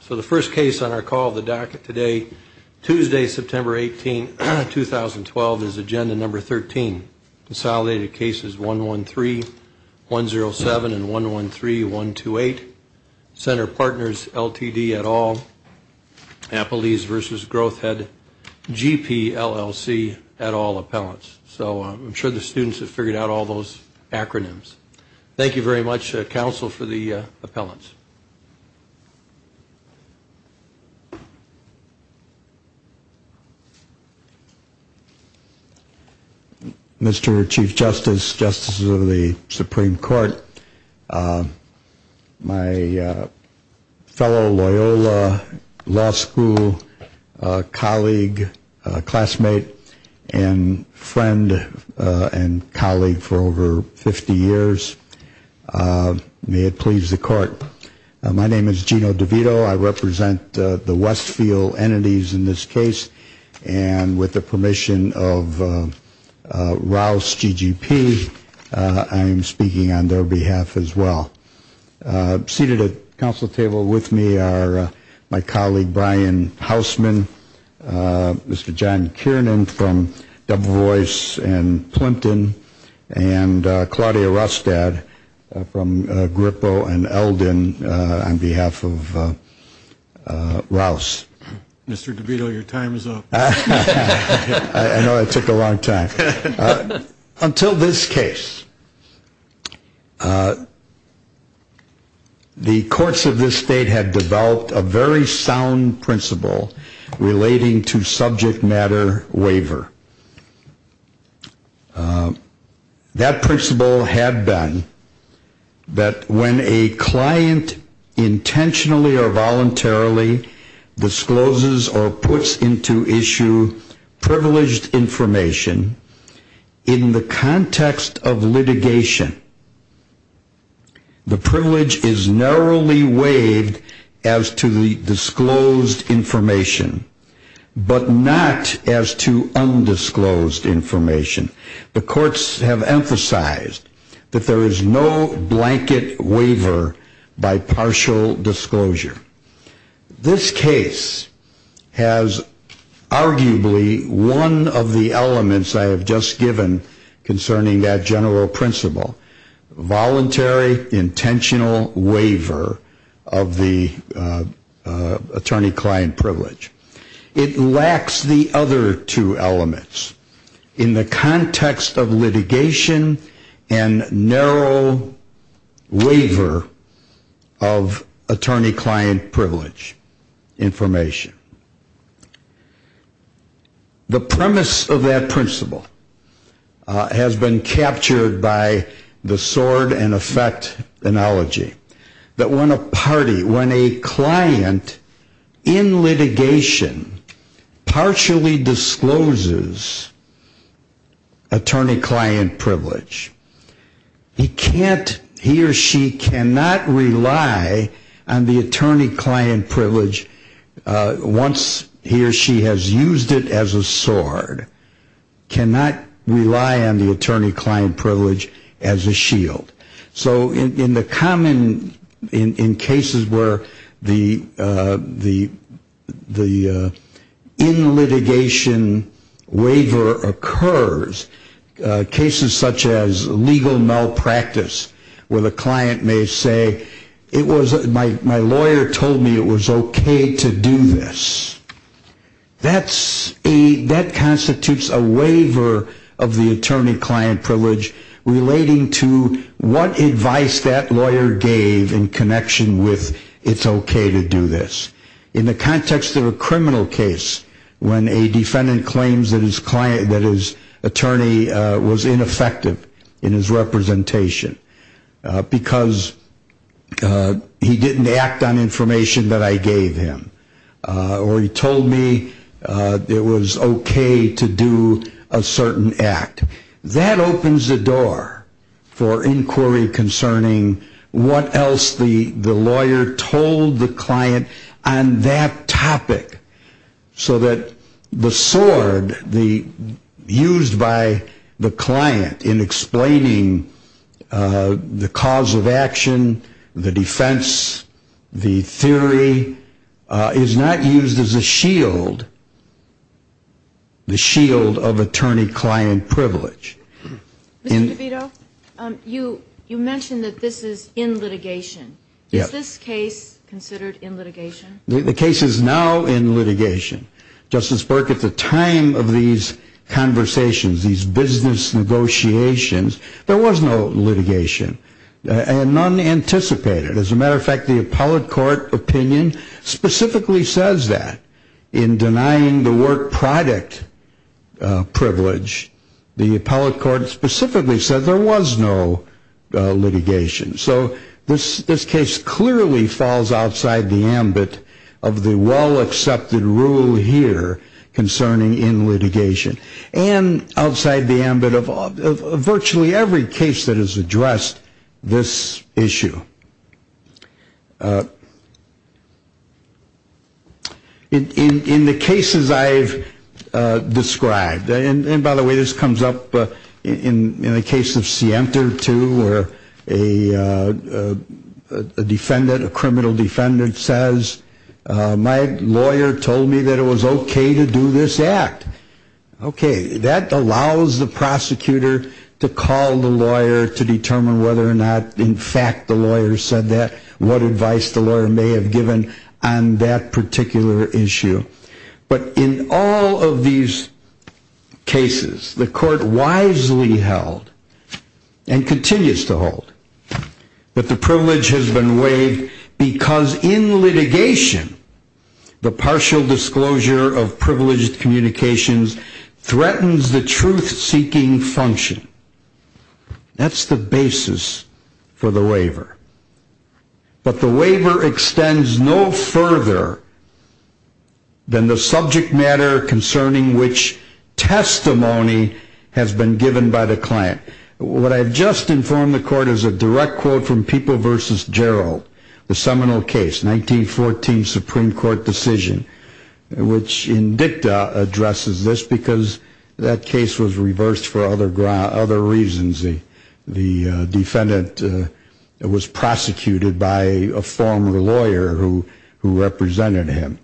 So the first case on our call of the docket today, Tuesday, September 18, 2012, is Agenda Number 13, Consolidated Cases 113107 and 113128, Center Partners LTD et al., Applebee's v. Growth Head GP LLC et al. Appellants. So I'm sure the students have figured out all those acronyms. Thank you very much, Counsel, for the appellants. Mr. Chief Justice, Justices of the Supreme Court, my fellow Loyola Law School colleague, classmate and friend and colleague for over 50 years, may it please the Court. My name is Gino DeVito. I represent the Westfield entities in this case. And with the permission of Rouse G.G.P., I am speaking on their behalf as well. Seated at the Council table with me are my colleague Brian Hausman, Mr. John Kiernan from Double Voice and Plimpton, and Claudia Rostad from Grippo and Eldon on behalf of Rouse. Mr. DeVito, your time is up. I know that took a long time. Until this case, the courts of this state had developed a very sound principle relating to subject matter waiver. That principle had been that when a client intentionally or voluntarily discloses or puts into issue privileged information in the context of litigation, the privilege is narrowly weighed as to the disclosed information, but not as to undisclosed information. The courts have emphasized that there is no blanket waiver by partial disclosure. This case has arguably one of the elements I have just given concerning that general principle, voluntary, intentional waiver of the attorney-client privilege. It lacks the other two elements in the context of litigation and narrow waiver of attorney-client privilege information. The premise of that principle has been captured by the sword-and-effect analogy that when a party, when a client in litigation partially discloses attorney-client privilege, he or she cannot rely on the attorney-client privilege once he or she has used it as a sword, cannot rely on the attorney-client privilege as a shield. So in the common, in cases where the in-litigation waiver occurs, cases such as legal malpractice where the client may say, my lawyer told me it was okay to do this, that constitutes a waiver of the attorney-client privilege relating to what advice that lawyer gave in connection with it's okay to do this. In the context of a criminal case when a defendant claims that his attorney was ineffective in his representation because he didn't act on information that I gave him or he told me it was okay to do a certain act, that opens the door for inquiry concerning what else the lawyer told the client on that topic so that the sword used by the client in explaining the cause of action, the defense, the theory, is not used as a shield, the shield of attorney-client privilege. Mr. DeVito, you mentioned that this is in litigation. Is this case considered in litigation? The case is now in litigation. Justice Burke, at the time of these conversations, these business negotiations, there was no litigation and none anticipated. As a matter of fact, the appellate court opinion specifically says that. In denying the work product privilege, the appellate court specifically said there was no litigation. So this case clearly falls outside the ambit of the well-accepted rule here concerning in litigation and outside the ambit of virtually every case that has addressed this issue. In the cases I've described, and by the way, this comes up in the case of Sienta, too, where a defendant, a criminal defendant says, my lawyer told me that it was okay to do this act. Okay, that allows the prosecutor to call the lawyer to determine whether or not, in fact, the lawyer said that, what advice the lawyer may have given on that particular issue. But in all of these cases, the court wisely held and continues to hold that the privilege has been waived because in litigation, the partial disclosure of privileged communications threatens the truth-seeking function. That's the basis for the waiver. But the waiver extends no further than the subject matter concerning which testimony has been given by the client. What I've just informed the court is a direct quote from People v. Gerald, the seminal case, 1914 Supreme Court decision, which in dicta addresses this because that case was reversed for other reasons. The defendant was prosecuted by a former lawyer who represented him.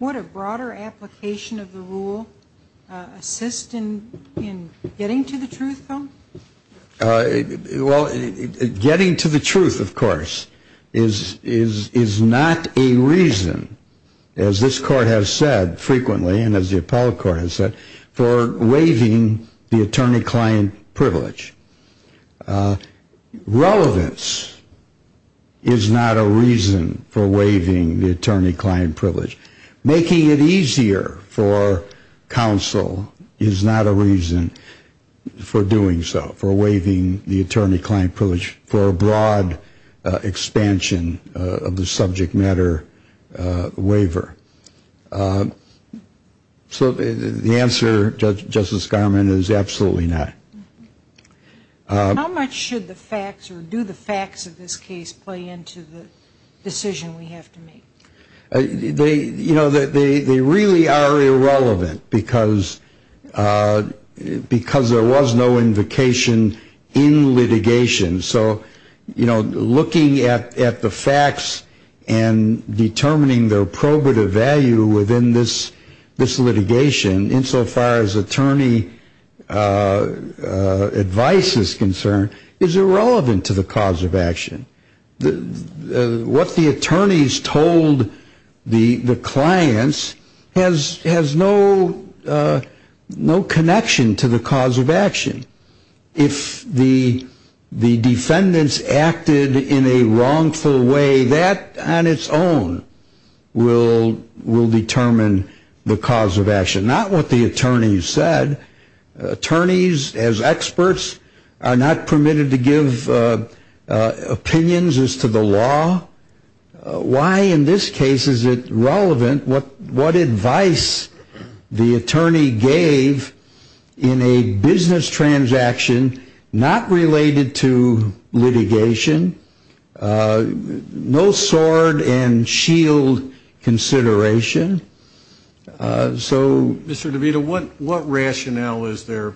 Would a broader application of the rule assist in getting to the truth, though? Well, getting to the truth, of course, is not a reason, as this court has said frequently and as the appellate court has said, for waiving the attorney-client privilege. Relevance is not a reason for waiving the attorney-client privilege. Making it easier for counsel is not a reason for doing so, for waiving the attorney-client privilege for a broad expansion of the subject matter waiver. So the answer, Justice Garment, is absolutely not. How much should the facts or do the facts of this case play into the decision we have to make? You know, they really are irrelevant because there was no invocation in litigation. So, you know, looking at the facts and determining their probative value within this litigation, insofar as attorney advice is concerned, is irrelevant to the cause of action. What the attorneys told the clients has no connection to the cause of action. If the defendants acted in a wrongful way, that on its own will determine the cause of action. That is not what the attorneys said. Attorneys, as experts, are not permitted to give opinions as to the law. Why in this case is it relevant? What advice the attorney gave in a business transaction not related to litigation? No sword and shield consideration. So, Mr. DeVita, what rationale is there?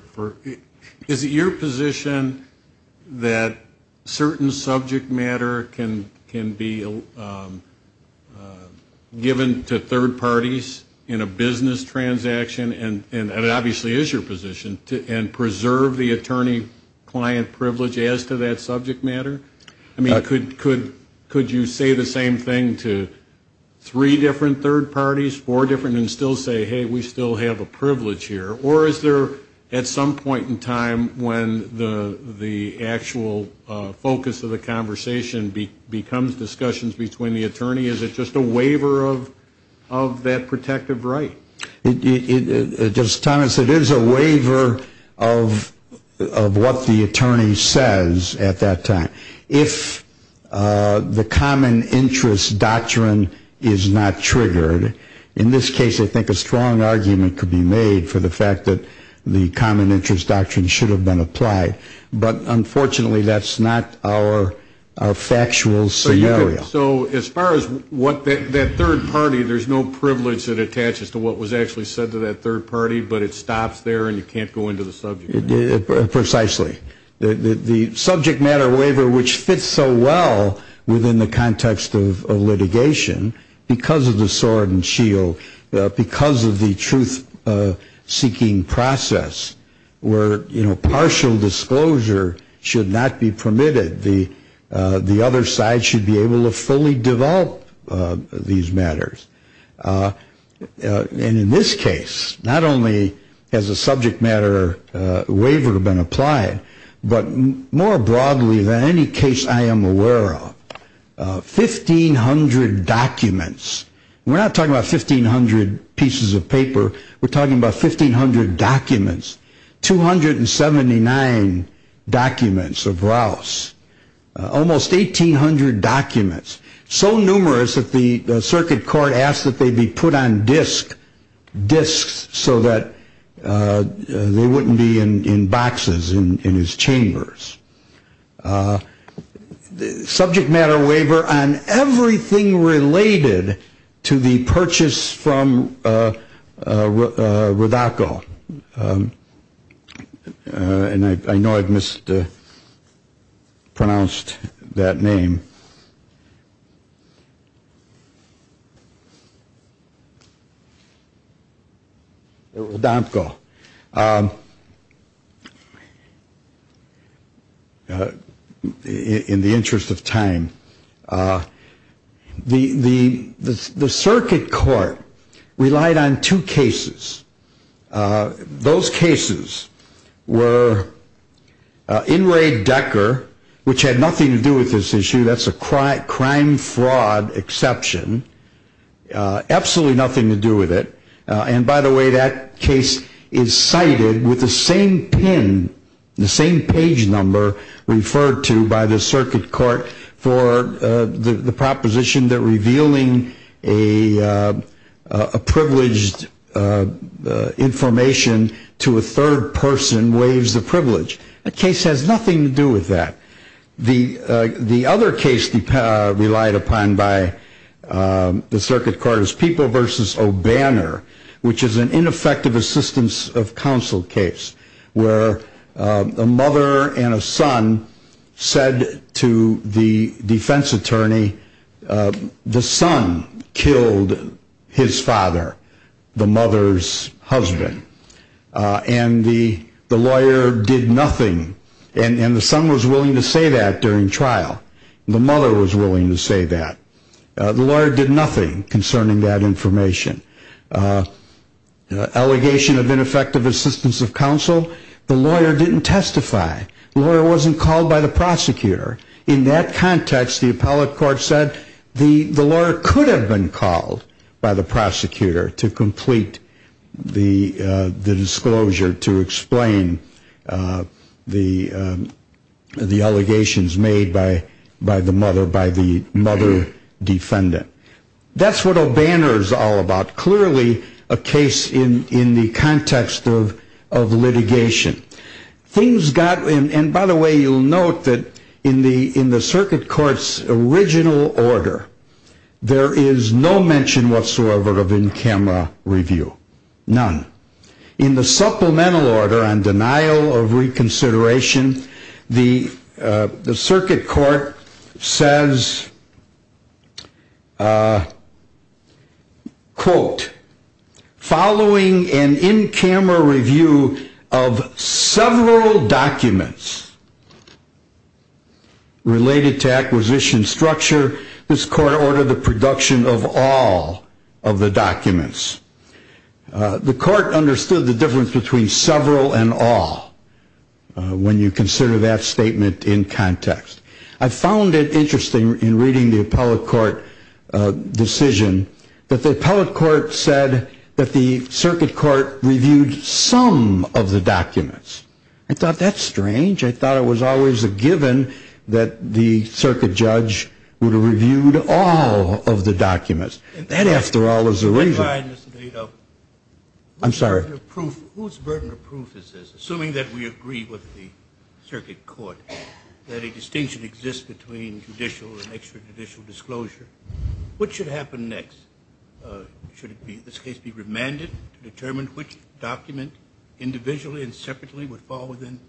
Is it your position that certain subject matter can be given to third parties in a business transaction, and it obviously is your position, and preserve the attorney-client privilege as to that subject matter? I mean, could you say the same thing to three different third parties, four different, and still say, hey, we still have a privilege here? Or is there at some point in time when the actual focus of the conversation becomes discussions between the attorney? Is it just a waiver of that protective right? Justice Thomas, it is a waiver of what the attorney says at that time. If the common interest doctrine is not triggered, in this case, I think a strong argument could be made for the fact that the common interest doctrine should have been applied. But, unfortunately, that's not our factual scenario. So, as far as that third party, there's no privilege that attaches to what was actually said to that third party, but it stops there and you can't go into the subject matter? Precisely. The subject matter waiver, which fits so well within the context of litigation because of the sword and shield, because of the truth-seeking process where partial disclosure should not be permitted, the other side should be able to fully develop these matters. And in this case, not only has a subject matter waiver been applied, but more broadly than any case I am aware of, 1,500 documents. We're not talking about 1,500 pieces of paper. We're talking about 1,500 documents. 279 documents of Rouse. Almost 1,800 documents. So numerous that the circuit court asked that they be put on disks so that they wouldn't be in boxes in his chambers. Subject matter waiver on everything related to the purchase from Rodarko. And I know I've mispronounced that name. Rodarko. In the interest of time, the circuit court relied on two cases. Those cases were in Ray Decker, which had nothing to do with this issue. That's a crime fraud exception. Absolutely nothing to do with it. And by the way, that case is cited with the same pin, the same page number, referred to by the circuit court for the proposition that revealing a privileged information to a third person waives the privilege. The case has nothing to do with that. The other case relied upon by the circuit court is People v. O'Banner, which is an ineffective assistance of counsel case where a mother and a son said to the defense attorney, the son killed his father, the mother's husband. And the lawyer did nothing. And the son was willing to say that during trial. The mother was willing to say that. The lawyer did nothing concerning that information. Allegation of ineffective assistance of counsel, the lawyer didn't testify. The lawyer wasn't called by the prosecutor. In that context, the appellate court said the lawyer could have been called by the prosecutor to complete the disclosure, to explain the allegations made by the mother, by the mother defendant. That's what O'Banner is all about. Clearly a case in the context of litigation. Things got, and by the way, you'll note that in the circuit court's original order, there is no mention whatsoever of in-camera review. None. In the supplemental order on denial of reconsideration, the circuit court says, quote, following an in-camera review of several documents related to acquisition structure, this court ordered the production of all of the documents. The court understood the difference between several and all when you consider that statement in context. I found it interesting in reading the appellate court decision that the appellate court said that the circuit court reviewed some of the documents. I thought that's strange. I thought it was always a given that the circuit judge would have reviewed all of the documents. That, after all, is the reason. I'm sorry. Whose burden of proof is this? Assuming that we agree with the circuit court that a distinction exists between judicial and extrajudicial disclosure, what should happen next? Should this case be remanded to determine which document individually and separately would fall within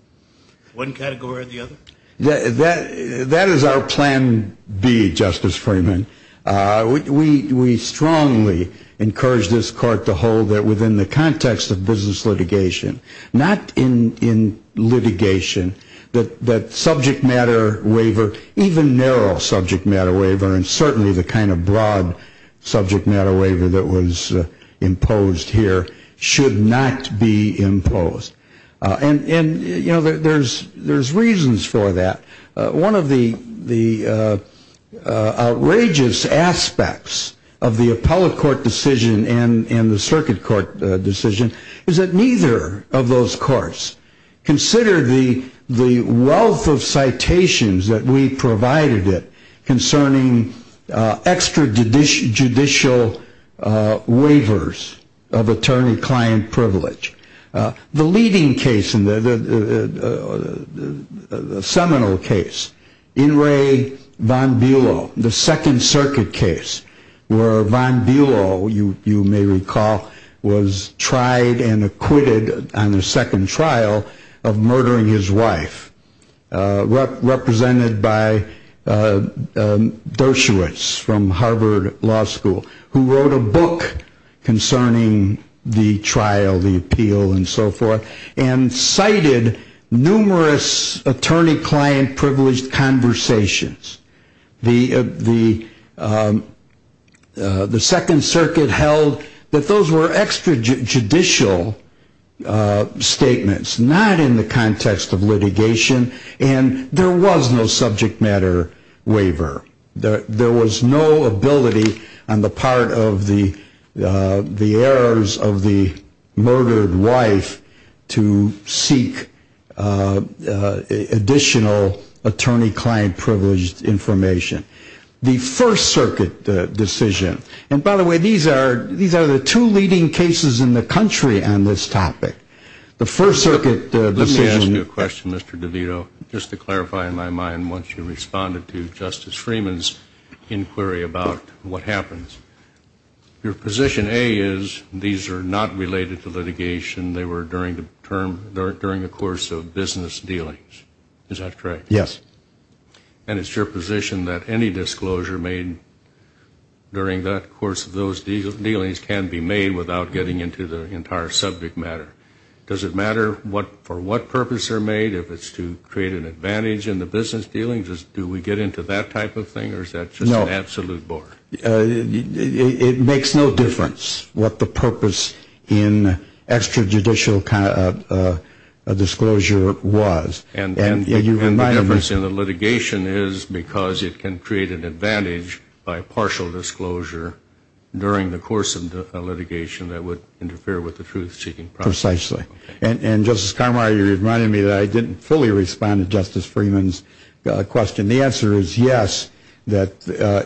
one category or the other? That is our plan B, Justice Freeman. We strongly encourage this court to hold that within the context of business litigation, not in litigation, that subject matter waiver, even narrow subject matter waiver, and certainly the kind of broad subject matter waiver that was imposed here, should not be imposed. And, you know, there's reasons for that. One of the outrageous aspects of the appellate court decision and the circuit court decision is that neither of those courts considered the wealth of citations that we provided it concerning extrajudicial waivers of attorney-client privilege. The leading case, the seminal case, Inouye von Bülow, the Second Circuit case, where von Bülow, you may recall, was tried and acquitted on the second trial of murdering his wife, represented by Dershowitz from Harvard Law School, who wrote a book concerning the trial, the appeal, and so forth, and cited numerous attorney-client privileged conversations. The Second Circuit held that those were extrajudicial statements, not in the context of litigation, and there was no subject matter waiver. There was no ability on the part of the heirs of the murdered wife to seek additional attorney-client privileged information. The First Circuit decision, and by the way, these are the two leading cases in the country on this topic. The First Circuit decision Let me ask you a question, Mr. DeVito, just to clarify in my mind once you responded to Justice Freeman's inquiry about what happens. Your position A is these are not related to litigation. They were during the course of business dealings. Is that correct? Yes. And it's your position that any disclosure made during that course of those dealings can be made without getting into the entire subject matter. Does it matter for what purpose they're made? If it's to create an advantage in the business dealings, do we get into that type of thing, or is that just an absolute bore? No. It makes no difference what the purpose in extrajudicial disclosure was. And the difference in the litigation is because it can create an advantage by partial disclosure during the course of litigation that would interfere with the truth-seeking process. Precisely. And, Justice Carmar, you reminded me that I didn't fully respond to Justice Freeman's question. And the answer is yes, that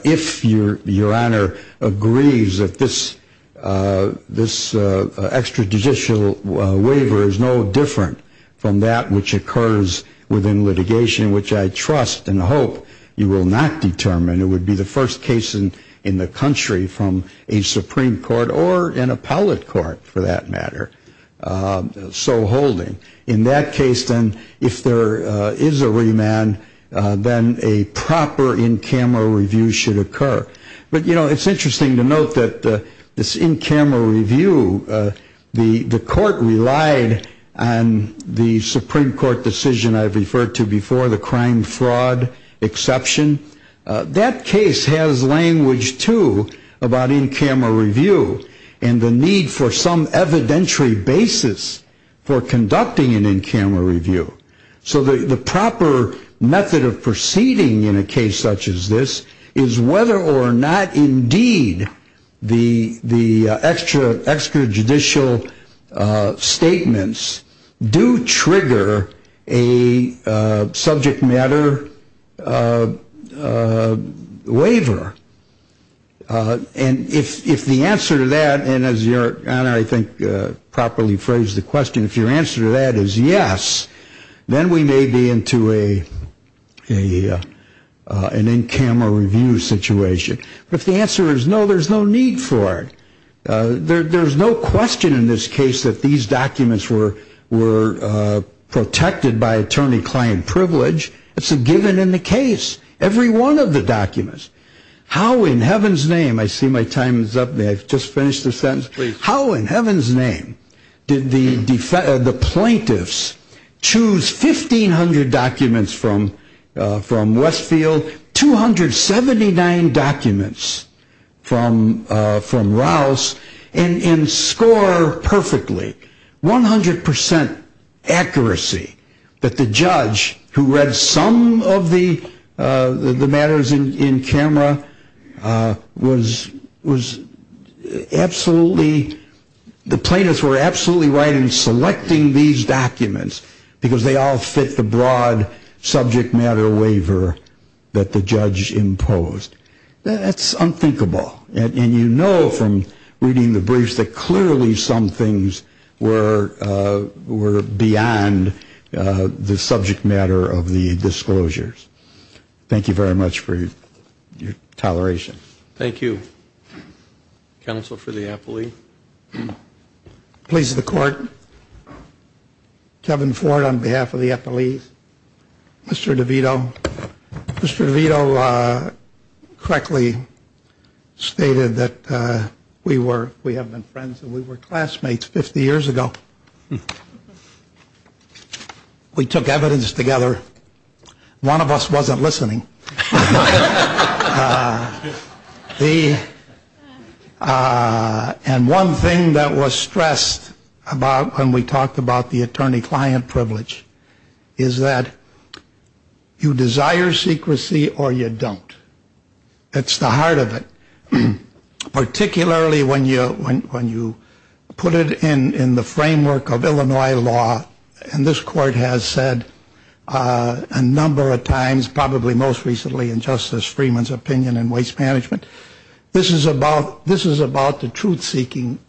if Your Honor agrees that this extrajudicial waiver is no different from that which occurs within litigation, which I trust and hope you will not determine, it would be the first case in the country from a Supreme Court or an appellate court, for that matter, so holding. In that case, then, if there is a remand, then a proper in-camera review should occur. But, you know, it's interesting to note that this in-camera review, the court relied on the Supreme Court decision I referred to before, the crime-fraud exception. That case has language, too, about in-camera review and the need for some evidentiary basis for conducting an in-camera review. So the proper method of proceeding in a case such as this is whether or not, indeed, the extrajudicial statements do trigger a subject matter waiver. And if the answer to that, and as Your Honor, I think, properly phrased the question, if your answer to that is yes, then we may be into an in-camera review situation. But if the answer is no, there's no need for it. There's no question in this case that these documents were protected by attorney-client privilege. It's a given in the case, every one of the documents. How in heaven's name, I see my time is up, may I just finish the sentence? How in heaven's name did the plaintiffs choose 1,500 documents from Westfield, 279 documents from Rouse, and score perfectly, 100% accuracy, that the judge who read some of the matters in camera was absolutely, the plaintiffs were absolutely right in selecting these documents because they all fit the broad subject matter waiver that the judge imposed. That's unthinkable. And you know from reading the briefs that clearly some things were beyond the subject matter of the disclosures. Thank you very much for your toleration. Thank you. Counsel for the appellee. Please, the court. Kevin Ford on behalf of the appellees. Mr. DeVito. Well, Mr. DeVito correctly stated that we have been friends and we were classmates 50 years ago. We took evidence together. One of us wasn't listening. And one thing that was stressed about when we talked about the attorney-client privilege is that you desire secrecy or you don't. That's the heart of it. Particularly when you put it in the framework of Illinois law, and this court has said a number of times, probably most recently in Justice Freeman's opinion in Waste Management, this is about the truth-seeking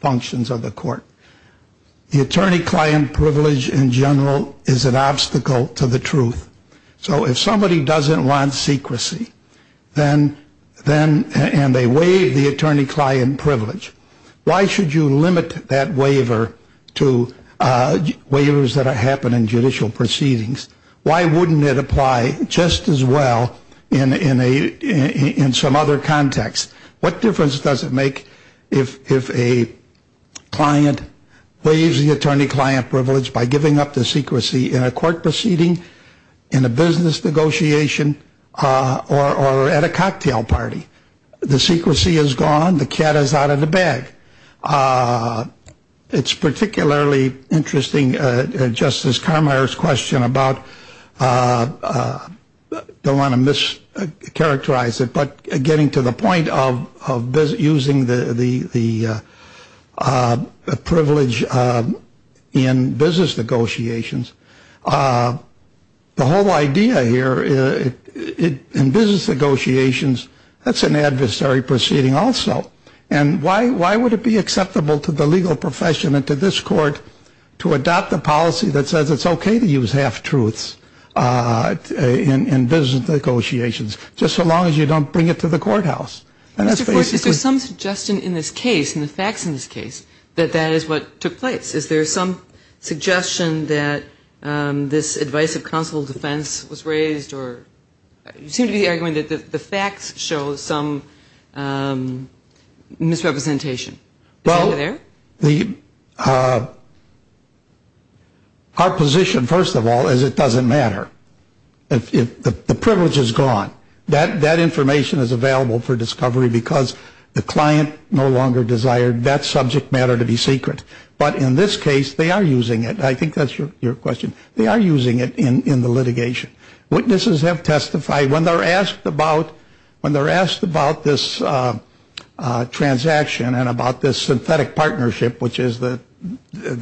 functions of the court. The attorney-client privilege in general is an obstacle to the truth. So if somebody doesn't want secrecy and they waive the attorney-client privilege, why should you limit that waiver to waivers that happen in judicial proceedings? Why wouldn't it apply just as well in some other context? What difference does it make if a client waives the attorney-client privilege by giving up the secrecy in a court proceeding, in a business negotiation, or at a cocktail party? The secrecy is gone. The cat is out of the bag. It's particularly interesting, Justice Carmeier's question about, don't want to mischaracterize it, but getting to the point of using the privilege in business negotiations. The whole idea here, in business negotiations, that's an adversary proceeding also. And why would it be acceptable to the legal profession and to this court to adopt a policy that says it's okay to use half-truths in business negotiations, just so long as you don't bring it to the courthouse? And that's basically — Mr. Gordon, is there some suggestion in this case, in the facts in this case, that that is what took place? Is there some suggestion that this advice of counsel defense was raised, or you seem to be arguing that the facts show some misrepresentation. Well, our position, first of all, is it doesn't matter. The privilege is gone. That information is available for discovery because the client no longer desired that subject matter to be secret. But in this case, they are using it. I think that's your question. They are using it in the litigation. Witnesses have testified. When they're asked about this transaction and about this synthetic partnership, which is the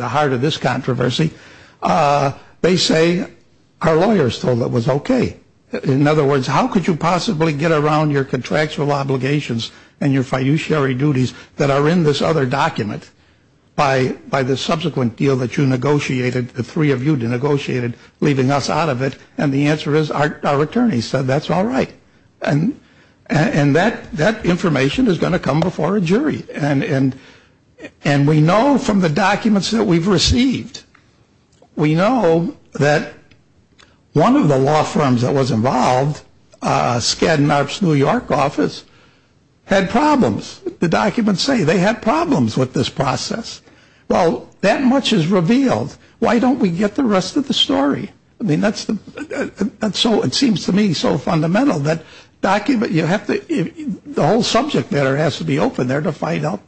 heart of this controversy, they say, our lawyers told us it was okay. In other words, how could you possibly get around your contractual obligations and your fiduciary duties that are in this other document by the subsequent deal that you negotiated, the three of you negotiated, leaving us out of it? And the answer is our attorneys said that's all right. And that information is going to come before a jury. And we know from the documents that we've received, we know that one of the law firms that was involved, Skadden Arps New York office, had problems. The documents say they had problems with this process. Well, that much is revealed. Why don't we get the rest of the story? I mean, that's the so it seems to me so fundamental that document, you have to the whole subject matter has to be open there to find out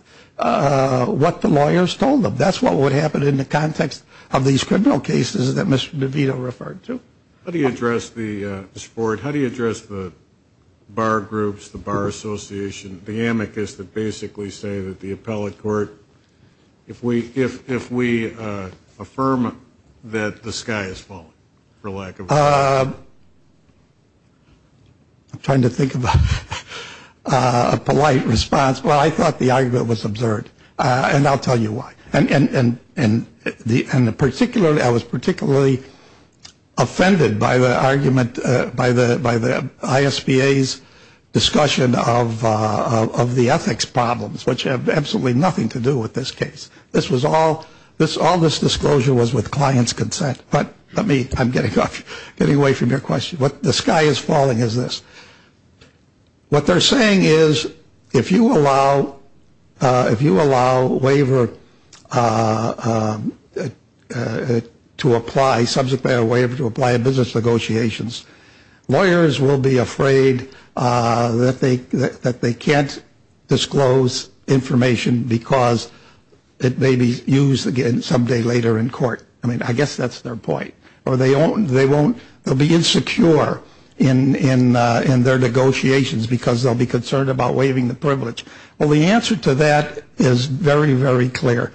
what the lawyers told them. That's what would happen in the context of these criminal cases that Mr. DeVito referred to. How do you address the support? How do you address the bar groups, the bar association, the amicus that basically say that the appellate court, if we if we affirm that the sky is falling for lack of. I'm trying to think of a polite response. Well, I thought the argument was absurd. And I'll tell you why. And in the end, the particular I was particularly offended by the argument by the by the I.S.P.A.'s discussion of the ethics problems, which have absolutely nothing to do with this case. This was all this all this disclosure was with clients consent. But let me I'm getting getting away from your question. What the sky is falling is this. What they're saying is if you allow if you allow waiver to apply subject matter waiver to apply a business negotiations, lawyers will be afraid that they that they can't disclose information because it may be used again someday later in court. I mean, I guess that's their point. Or they own they won't be insecure in in in their negotiations because they'll be concerned about waiving the privilege. Well, the answer to that is very, very clear.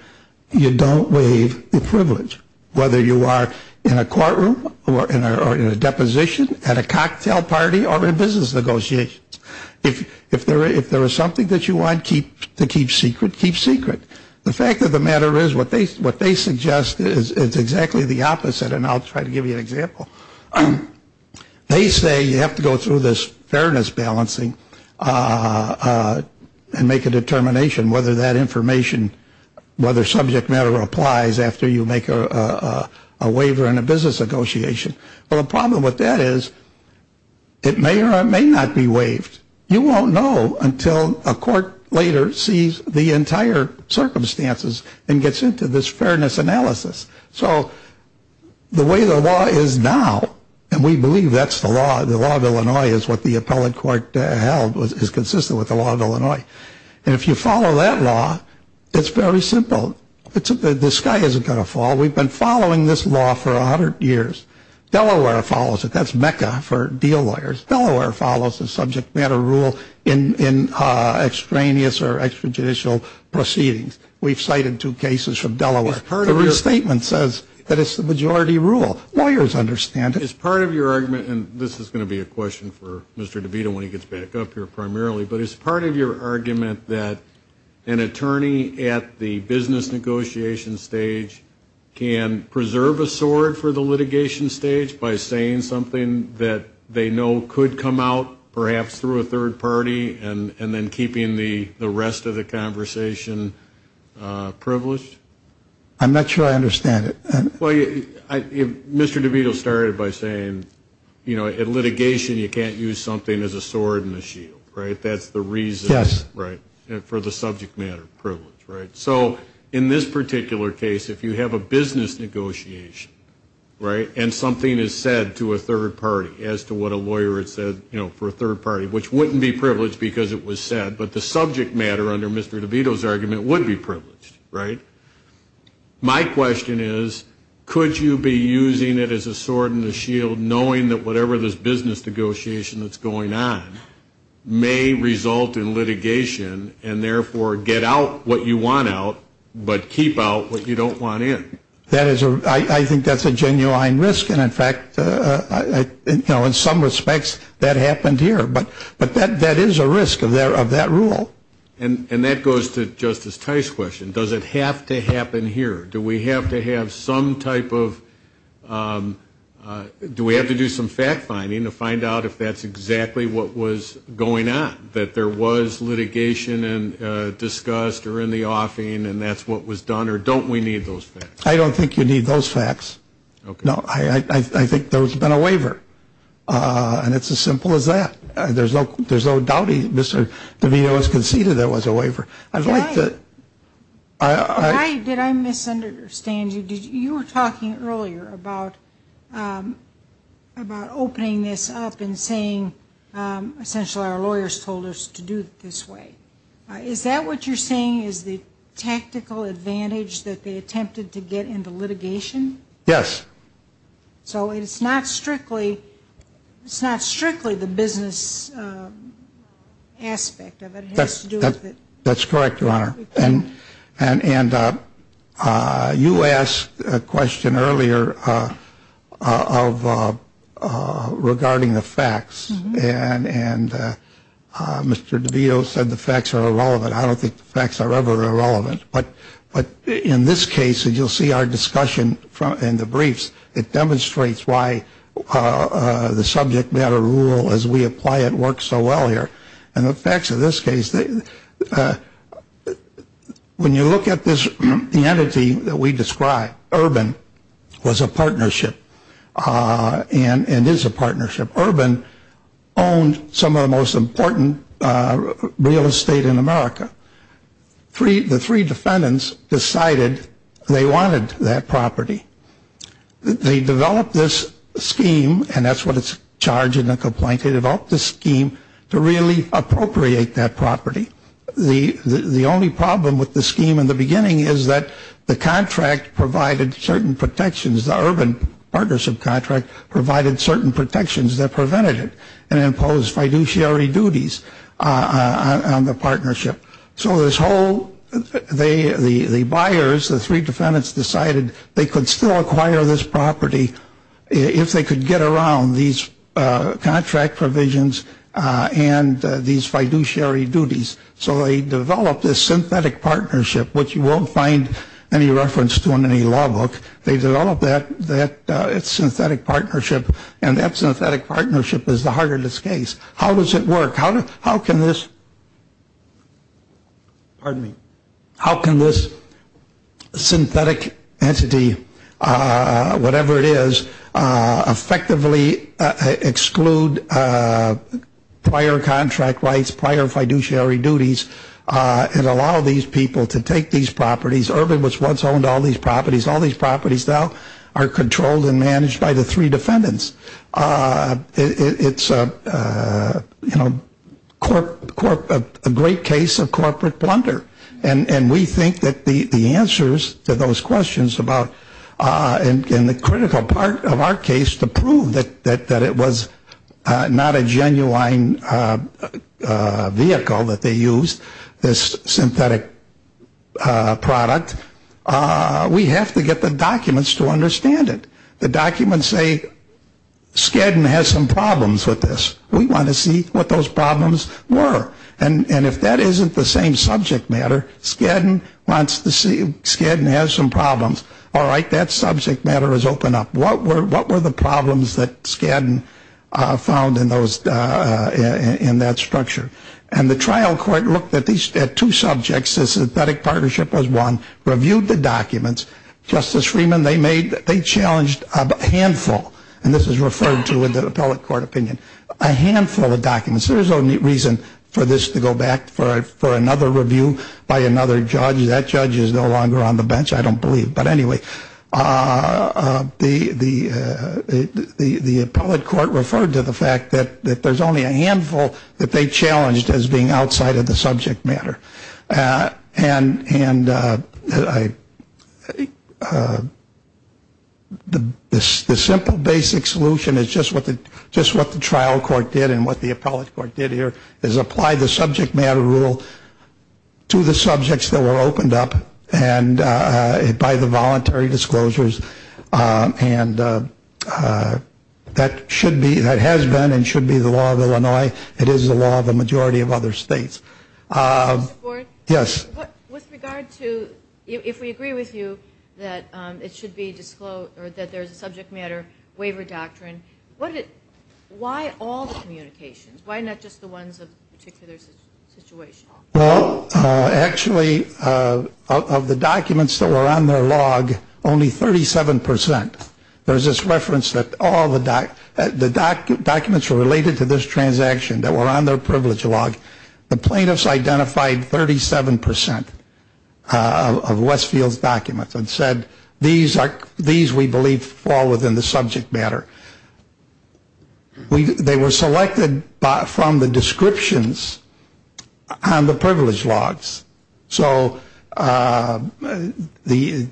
You don't waive the privilege, whether you are in a courtroom or in a deposition at a cocktail party or in business negotiations. If if there if there is something that you want to keep to keep secret, keep secret. The fact of the matter is what they what they suggest is exactly the opposite. And I'll try to give you an example. They say you have to go through this fairness balancing and make a determination whether that information, whether subject matter applies after you make a waiver in a business negotiation. Well, the problem with that is it may or may not be waived. You won't know until a court later sees the entire circumstances and gets into this fairness analysis. So the way the law is now, and we believe that's the law. The law of Illinois is what the appellate court held was is consistent with the law of Illinois. And if you follow that law, it's very simple. The sky isn't going to fall. We've been following this law for a hundred years. Delaware follows it. That's Mecca for deal lawyers. Delaware follows the subject matter rule in extraneous or extrajudicial proceedings. We've cited two cases from Delaware. Her statement says that it's the majority rule. Lawyers understand. It's part of your argument. And this is going to be a question for Mr. DeVito when he gets back up here primarily. But it's part of your argument that an attorney at the business negotiation stage can preserve a sword for the litigation stage by saying something that they know could come out, perhaps through a third party, and then keeping the rest of the conversation privileged? I'm not sure I understand it. Mr. DeVito started by saying, you know, at litigation you can't use something as a sword and a shield, right? That's the reason for the subject matter privilege, right? So in this particular case, if you have a business negotiation, right, and something is said to a third party as to what a lawyer had said, you know, for a third party, which wouldn't be privileged because it was said, but the subject matter under Mr. DeVito's argument would be privileged, right? My question is, could you be using it as a sword and a shield, knowing that whatever this business negotiation that's going on may result in litigation and therefore get out what you want out but keep out what you don't want in? I think that's a genuine risk, and in fact, you know, in some respects that happened here. But that is a risk of that rule. And that goes to Justice Tice's question. Does it have to happen here? Do we have to have some type of do we have to do some fact finding to find out if that's exactly what was going on, that there was litigation discussed or in the offing and that's what was done, or don't we need those facts? I don't think you need those facts. No, I think there's been a waiver, and it's as simple as that. There's no doubting Mr. DeVito has conceded there was a waiver. Did I misunderstand you? You were talking earlier about opening this up and saying essentially our lawyers told us to do it this way. Is that what you're saying is the tactical advantage that they attempted to get into litigation? Yes. So it's not strictly the business aspect of it. That's correct, Your Honor. And you asked a question earlier regarding the facts, and Mr. DeVito said the facts are irrelevant. I don't think the facts are ever irrelevant. But in this case, as you'll see our discussion in the briefs, it demonstrates why the subject matter rule as we apply it works so well here. And the facts of this case, when you look at the entity that we described, Urban was a partnership and is a partnership. Urban owned some of the most important real estate in America. The three defendants decided they wanted that property. They developed this scheme, and that's what it's charged in the complaint. They developed this scheme to really appropriate that property. The only problem with the scheme in the beginning is that the contract provided certain protections. The Urban partnership contract provided certain protections that prevented it and imposed fiduciary duties on the partnership. So the buyers, the three defendants, decided they could still acquire this property if they could get around these contract provisions and these fiduciary duties. So they developed this synthetic partnership, which you won't find any reference to in any law book. They developed that synthetic partnership, and that synthetic partnership is the heart of this case. How does it work? How can this synthetic entity, whatever it is, effectively exclude prior contract rights, prior fiduciary duties, and allow these people to take these properties? Urban was once owned all these properties. All these properties now are controlled and managed by the three defendants. It's a great case of corporate blunder, and we think that the answers to those questions and the critical part of our case to prove that it was not a genuine vehicle that they used, this synthetic product, we have to get the documents to understand it. The documents say Skadden has some problems with this. We want to see what those problems were. And if that isn't the same subject matter, Skadden has some problems. All right, that subject matter is open up. What were the problems that Skadden found in that structure? And the trial court looked at two subjects. The synthetic partnership was one, reviewed the documents. Justice Freeman, they challenged a handful, and this is referred to in the appellate court opinion, a handful of documents. There's no reason for this to go back for another review by another judge. That judge is no longer on the bench, I don't believe. But anyway, the appellate court referred to the fact that there's only a handful that they challenged as being outside of the subject matter. And the simple basic solution is just what the trial court did and what the appellate court did here is apply the subject matter rule to the subjects that were opened up by the voluntary disclosures. And that should be, that has been and should be the law of Illinois. It is the law of the majority of other states. Mr. Ford? Yes. With regard to, if we agree with you that it should be disclosed, or that there's a subject matter waiver doctrine, why all the communications? Why not just the ones of a particular situation? Well, actually, of the documents that were on their log, only 37%. There's this reference that all the documents were related to this transaction that were on their privilege log. The plaintiffs identified 37% of Westfield's documents and said, these we believe fall within the subject matter. They were selected from the descriptions on the privilege logs. So they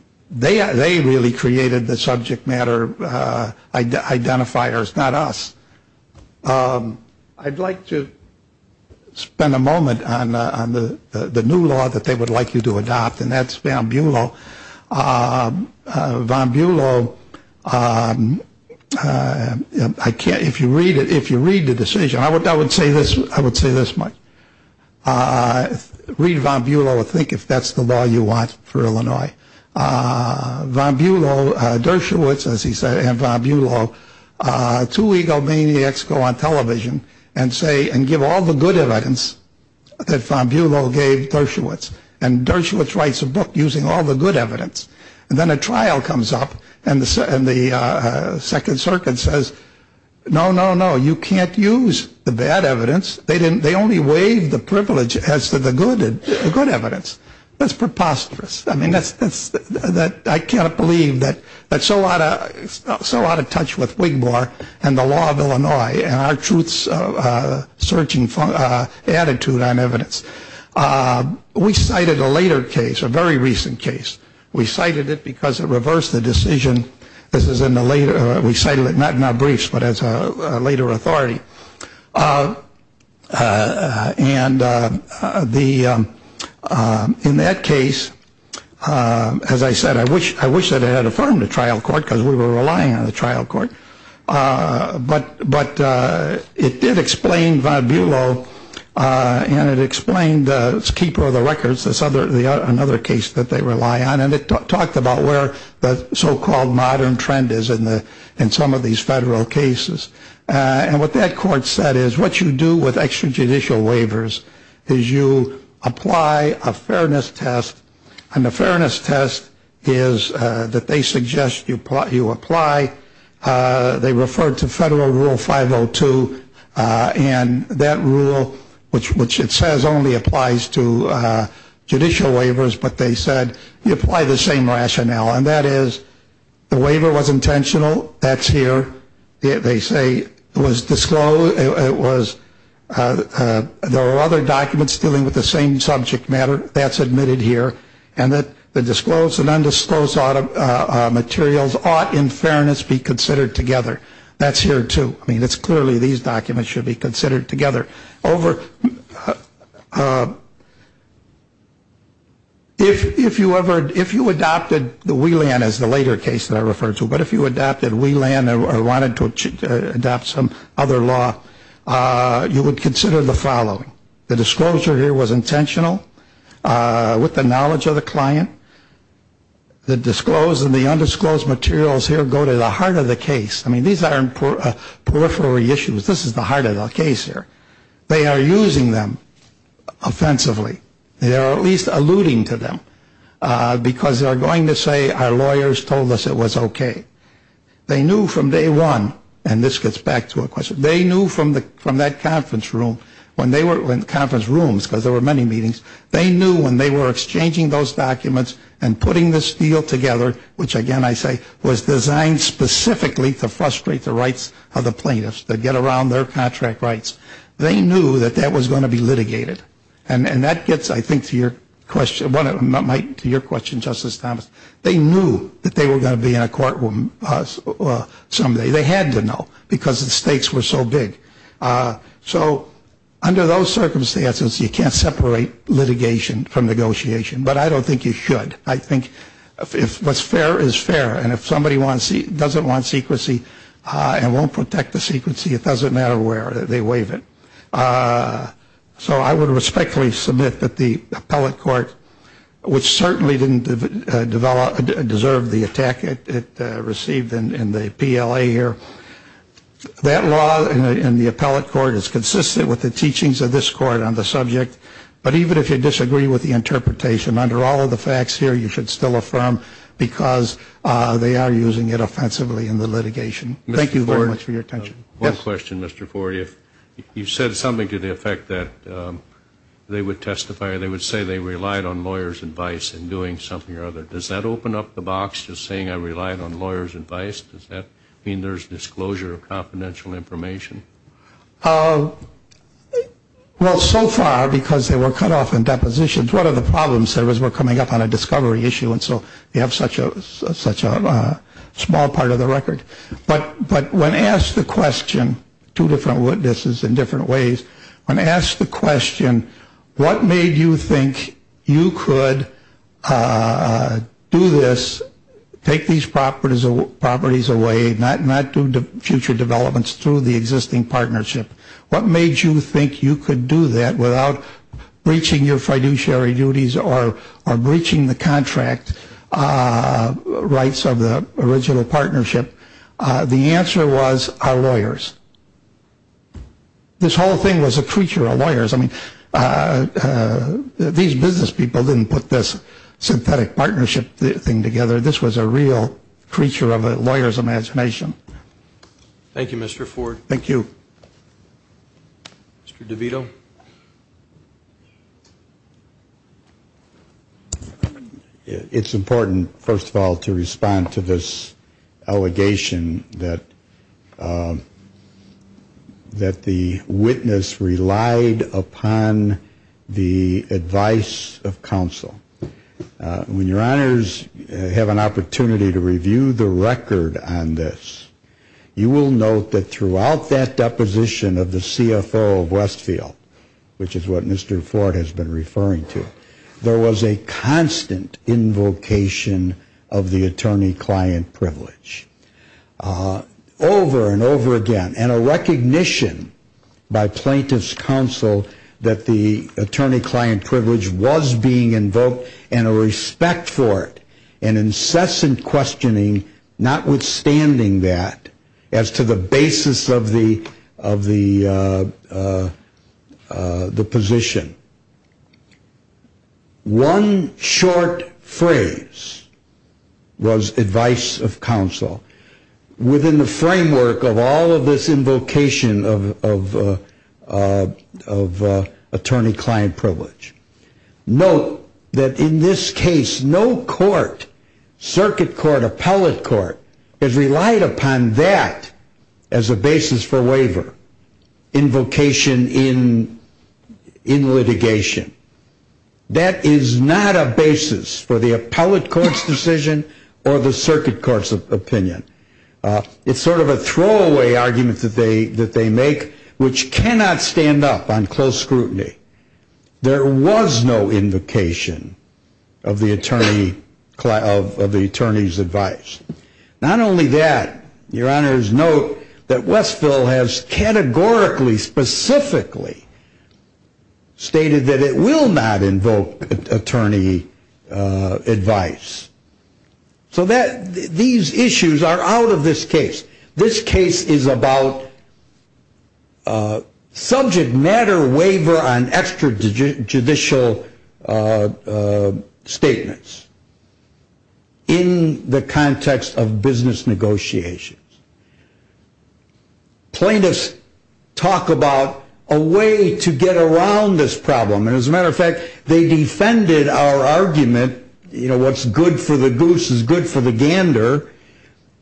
really created the subject matter identifiers, not us. I'd like to spend a moment on the new law that they would like you to adopt, and that's von Buelow. Von Buelow, if you read the decision, I would say this, Mike. Read von Buelow and think if that's the law you want for Illinois. Von Buelow, Dershowitz, as he said, and von Buelow, two egomaniacs go on television and give all the good evidence that von Buelow gave Dershowitz. And Dershowitz writes a book using all the good evidence. And then a trial comes up, and the Second Circuit says, no, no, no, you can't use the bad evidence. They only waive the privilege as to the good evidence. That's preposterous. I mean, I cannot believe that so out of touch with Wigmore and the law of Illinois and our truth-searching attitude on evidence. We cited a later case, a very recent case. We cited it because it reversed the decision. We cited it not in our briefs, but as a later authority. And in that case, as I said, I wish that it had affirmed a trial court because we were relying on a trial court. But it did explain von Buelow, and it explained the keeper of the records, another case that they rely on. And it talked about where the so-called modern trend is in some of these federal cases. And what that court said is what you do with extrajudicial waivers is you apply a fairness test, and the fairness test is that they suggest you apply. They referred to Federal Rule 502, and that rule, which it says only applies to judicial waivers, but they said you apply the same rationale. And that is the waiver was intentional. That's here. They say it was disclosed. There are other documents dealing with the same subject matter. That's admitted here. And that the disclosed and undisclosed materials ought in fairness be considered together. That's here, too. I mean, it's clearly these documents should be considered together. If you adopted the Wieland as the later case that I referred to, but if you adopted Wieland or wanted to adopt some other law, you would consider the following. The disclosure here was intentional with the knowledge of the client. The disclosed and the undisclosed materials here go to the heart of the case. I mean, these aren't periphery issues. This is the heart of the case here. They are using them offensively. They are at least alluding to them because they are going to say our lawyers told us it was okay. They knew from day one, and this gets back to a question, they knew from that conference room when they were in conference rooms because there were many meetings, they knew when they were exchanging those documents and putting this deal together, which, again, I say, was designed specifically to frustrate the rights of the plaintiffs, to get around their contract rights. They knew that that was going to be litigated, and that gets, I think, to your question, Justice Thomas. They knew that they were going to be in a courtroom someday. They had to know because the stakes were so big. So under those circumstances, you can't separate litigation from negotiation, but I don't think you should. I think what's fair is fair, and if somebody doesn't want secrecy and won't protect the secrecy, it doesn't matter where they waive it. So I would respectfully submit that the appellate court, which certainly didn't deserve the attack it received in the PLA here, that law in the appellate court is consistent with the teachings of this court on the subject, but even if you disagree with the interpretation, under all of the facts here, you should still affirm because they are using it offensively in the litigation. Thank you very much for your attention. One question, Mr. Ford. If you said something to the effect that they would testify or they would say they relied on lawyers' advice in doing something or other, does that open up the box, just saying I relied on lawyers' advice? Does that mean there's disclosure of confidential information? Well, so far, because they were cut off in depositions, one of the problems there was we're coming up on a discovery issue, and so they have such a small part of the record. But when asked the question, two different witnesses in different ways, when asked the question, what made you think you could do this, take these properties away, not do future developments through the existing partnership, what made you think you could do that without breaching your fiduciary duties or breaching the contract rights of the original partnership, the answer was our lawyers. This whole thing was a creature of lawyers. I mean, these business people didn't put this synthetic partnership thing together. This was a real creature of a lawyer's imagination. Thank you, Mr. Ford. Thank you. Mr. DeVito. It's important, first of all, to respond to this allegation that the witness relied upon the advice of counsel. When your honors have an opportunity to review the record on this, you will note that throughout that deposition of the CFO of Westfield, which is what Mr. Ford has been referring to, there was a constant invocation of the attorney-client privilege over and over again, and a recognition by plaintiff's counsel that the attorney-client privilege was being invoked, and a respect for it, and incessant questioning, notwithstanding that, as to the basis of the position. One short phrase was advice of counsel. Within the framework of all of this invocation of attorney-client privilege. Note that in this case, no court, circuit court, appellate court, has relied upon that as a basis for waiver, invocation in litigation. That is not a basis for the appellate court's decision or the circuit court's opinion. It's sort of a throwaway argument that they make, which cannot stand up on close scrutiny. There was no invocation of the attorney's advice. Not only that, your honors, note that Westfield has categorically, specifically, stated that it will not invoke attorney advice. So these issues are out of this case. This case is about subject matter waiver on extrajudicial statements. In the context of business negotiations. Plaintiffs talk about a way to get around this problem, and as a matter of fact, they defended our argument, you know, what's good for the goose is good for the gander.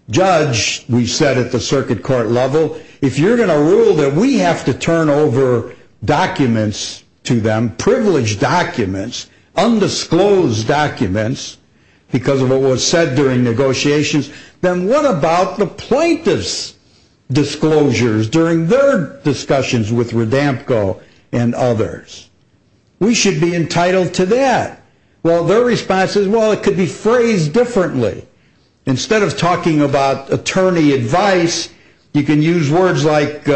Judge, we said at the circuit court level, if you're going to rule that we have to turn over documents to them, privileged documents, undisclosed documents, because of what was said during negotiations, then what about the plaintiff's disclosures during their discussions with Radamco and others? We should be entitled to that. Well, their response is, well, it could be phrased differently. Instead of talking about attorney advice, you can use words like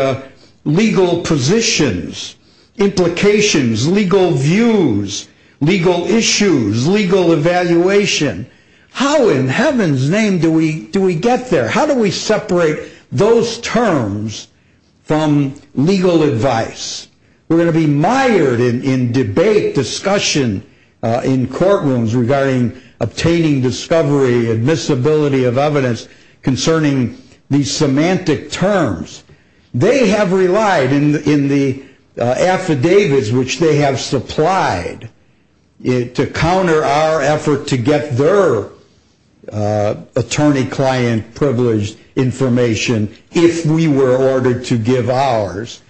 legal positions, implications, legal views, legal issues, legal evaluation. How in heaven's name do we get there? How do we separate those terms from legal advice? We're going to be mired in debate, discussion in courtrooms regarding obtaining discovery, admissibility of evidence concerning these semantic terms. They have relied in the affidavits which they have supplied to counter our effort to get their attorney, client, privileged information if we were ordered to give ours,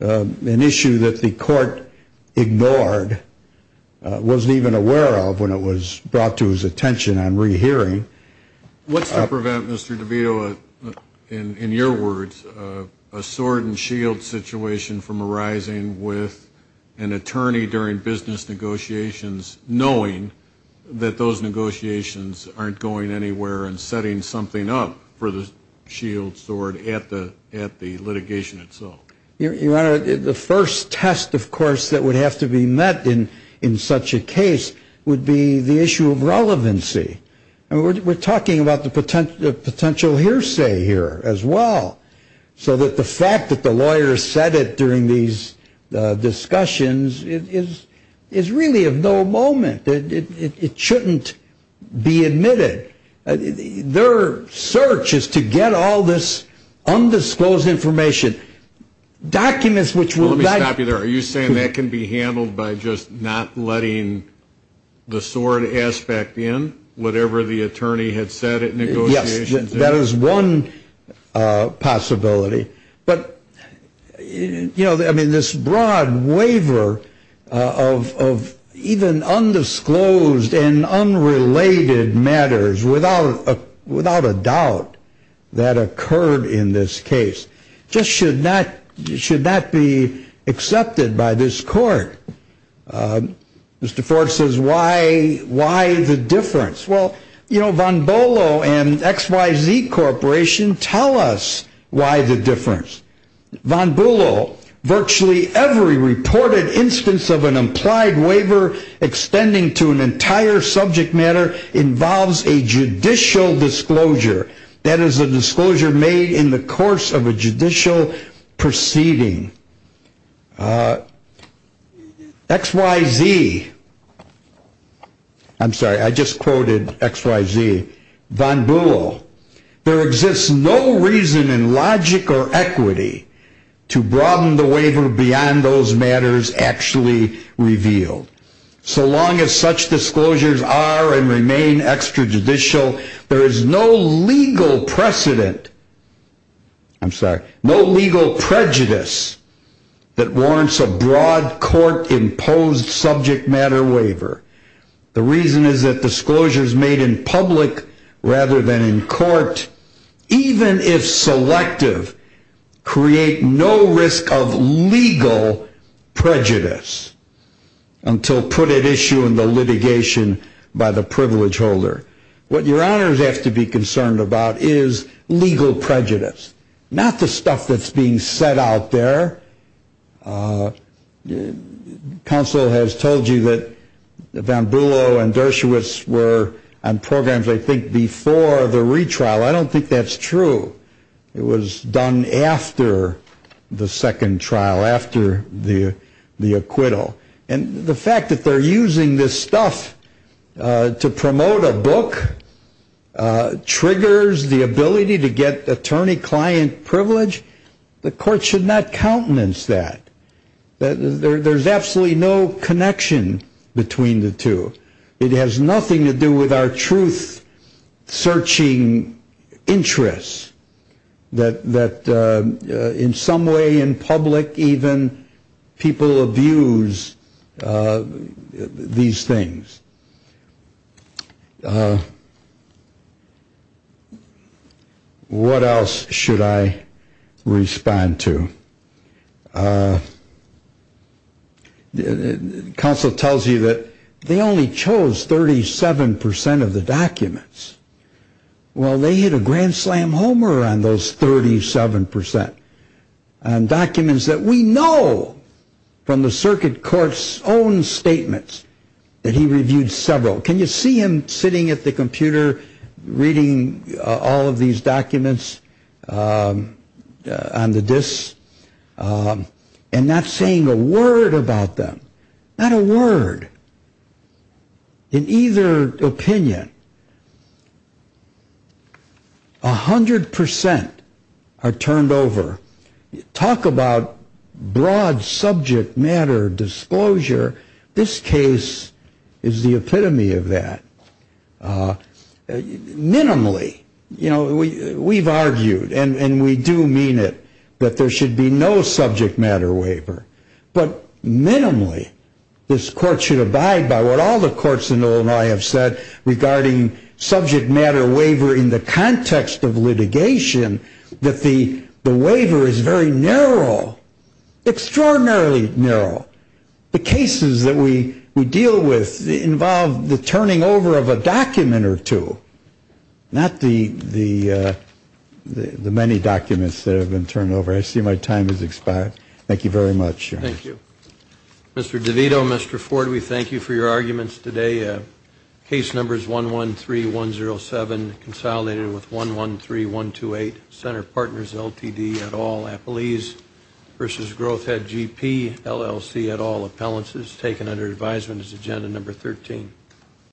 an issue that the court ignored, wasn't even aware of when it was brought to his attention on rehearing. What's to prevent, Mr. DeVito, in your words, a sword and shield situation from arising with an attorney during business negotiations knowing that those negotiations aren't going anywhere and setting something up for the shield sword at the litigation itself? Your Honor, the first test, of course, that would have to be met in such a case would be the issue of relevancy. We're talking about the potential hearsay here as well, so that the fact that the lawyers said it during these discussions is really of no moment. It shouldn't be admitted. Their search is to get all this undisclosed information. Let me stop you there. Are you saying that can be handled by just not letting the sword aspect in, whatever the attorney had said at negotiations? Yes, that is one possibility. But this broad waiver of even undisclosed and unrelated matters without a doubt that occurred in this case just should not be accepted by this court. Mr. Ford says, why the difference? Well, you know, Von Bolo and XYZ Corporation tell us why the difference. Von Bolo, virtually every reported instance of an implied waiver extending to an entire subject matter involves a judicial disclosure. That is a disclosure made in the course of a judicial proceeding. XYZ, I'm sorry, I just quoted XYZ. Von Bolo, there exists no reason in logic or equity to broaden the waiver beyond those matters actually revealed. So long as such disclosures are and remain extrajudicial, there is no legal precedent, I'm sorry, no legal prejudice that warrants a broad court imposed subject matter waiver. The reason is that disclosures made in public rather than in court, even if selective, create no risk of legal prejudice. Until put at issue in the litigation by the privilege holder. What your honors have to be concerned about is legal prejudice, not the stuff that's being said out there. Counsel has told you that Von Bolo and Dershowitz were on programs, I think, before the retrial. I don't think that's true. It was done after the second trial, after the acquittal. And the fact that they're using this stuff to promote a book triggers the ability to get attorney-client privilege. The court should not countenance that. There's absolutely no connection between the two. It has nothing to do with our truth-searching interests that in some way in public even people abuse these things. What else should I respond to? Counsel tells you that they only chose 37 percent of the documents. Well, they hit a grand slam homer on those 37 percent. And documents that we know from the circuit court's own statements that he reviewed several. Can you see him sitting at the computer reading all of these documents on the disks and not saying a word about them? Not a word in either opinion. A hundred percent are turned over. Talk about broad subject matter disclosure. This case is the epitome of that. Minimally, you know, we've argued, and we do mean it, that there should be no subject matter waiver. But minimally, this court should abide by what all the courts in Illinois have said regarding subject matter waiver in the context of litigation, that the waiver is very narrow, extraordinarily narrow. The cases that we deal with involve the turning over of a document or two, not the many documents that have been turned over. I see my time has expired. Thank you very much. Thank you. Mr. DeVito, Mr. Ford, we thank you for your arguments today. Case number is 113107, consolidated with 113128. Center partners LTD at all. Appellees versus Growth Head GP, LLC at all. Appellants is taken under advisement as agenda number 13.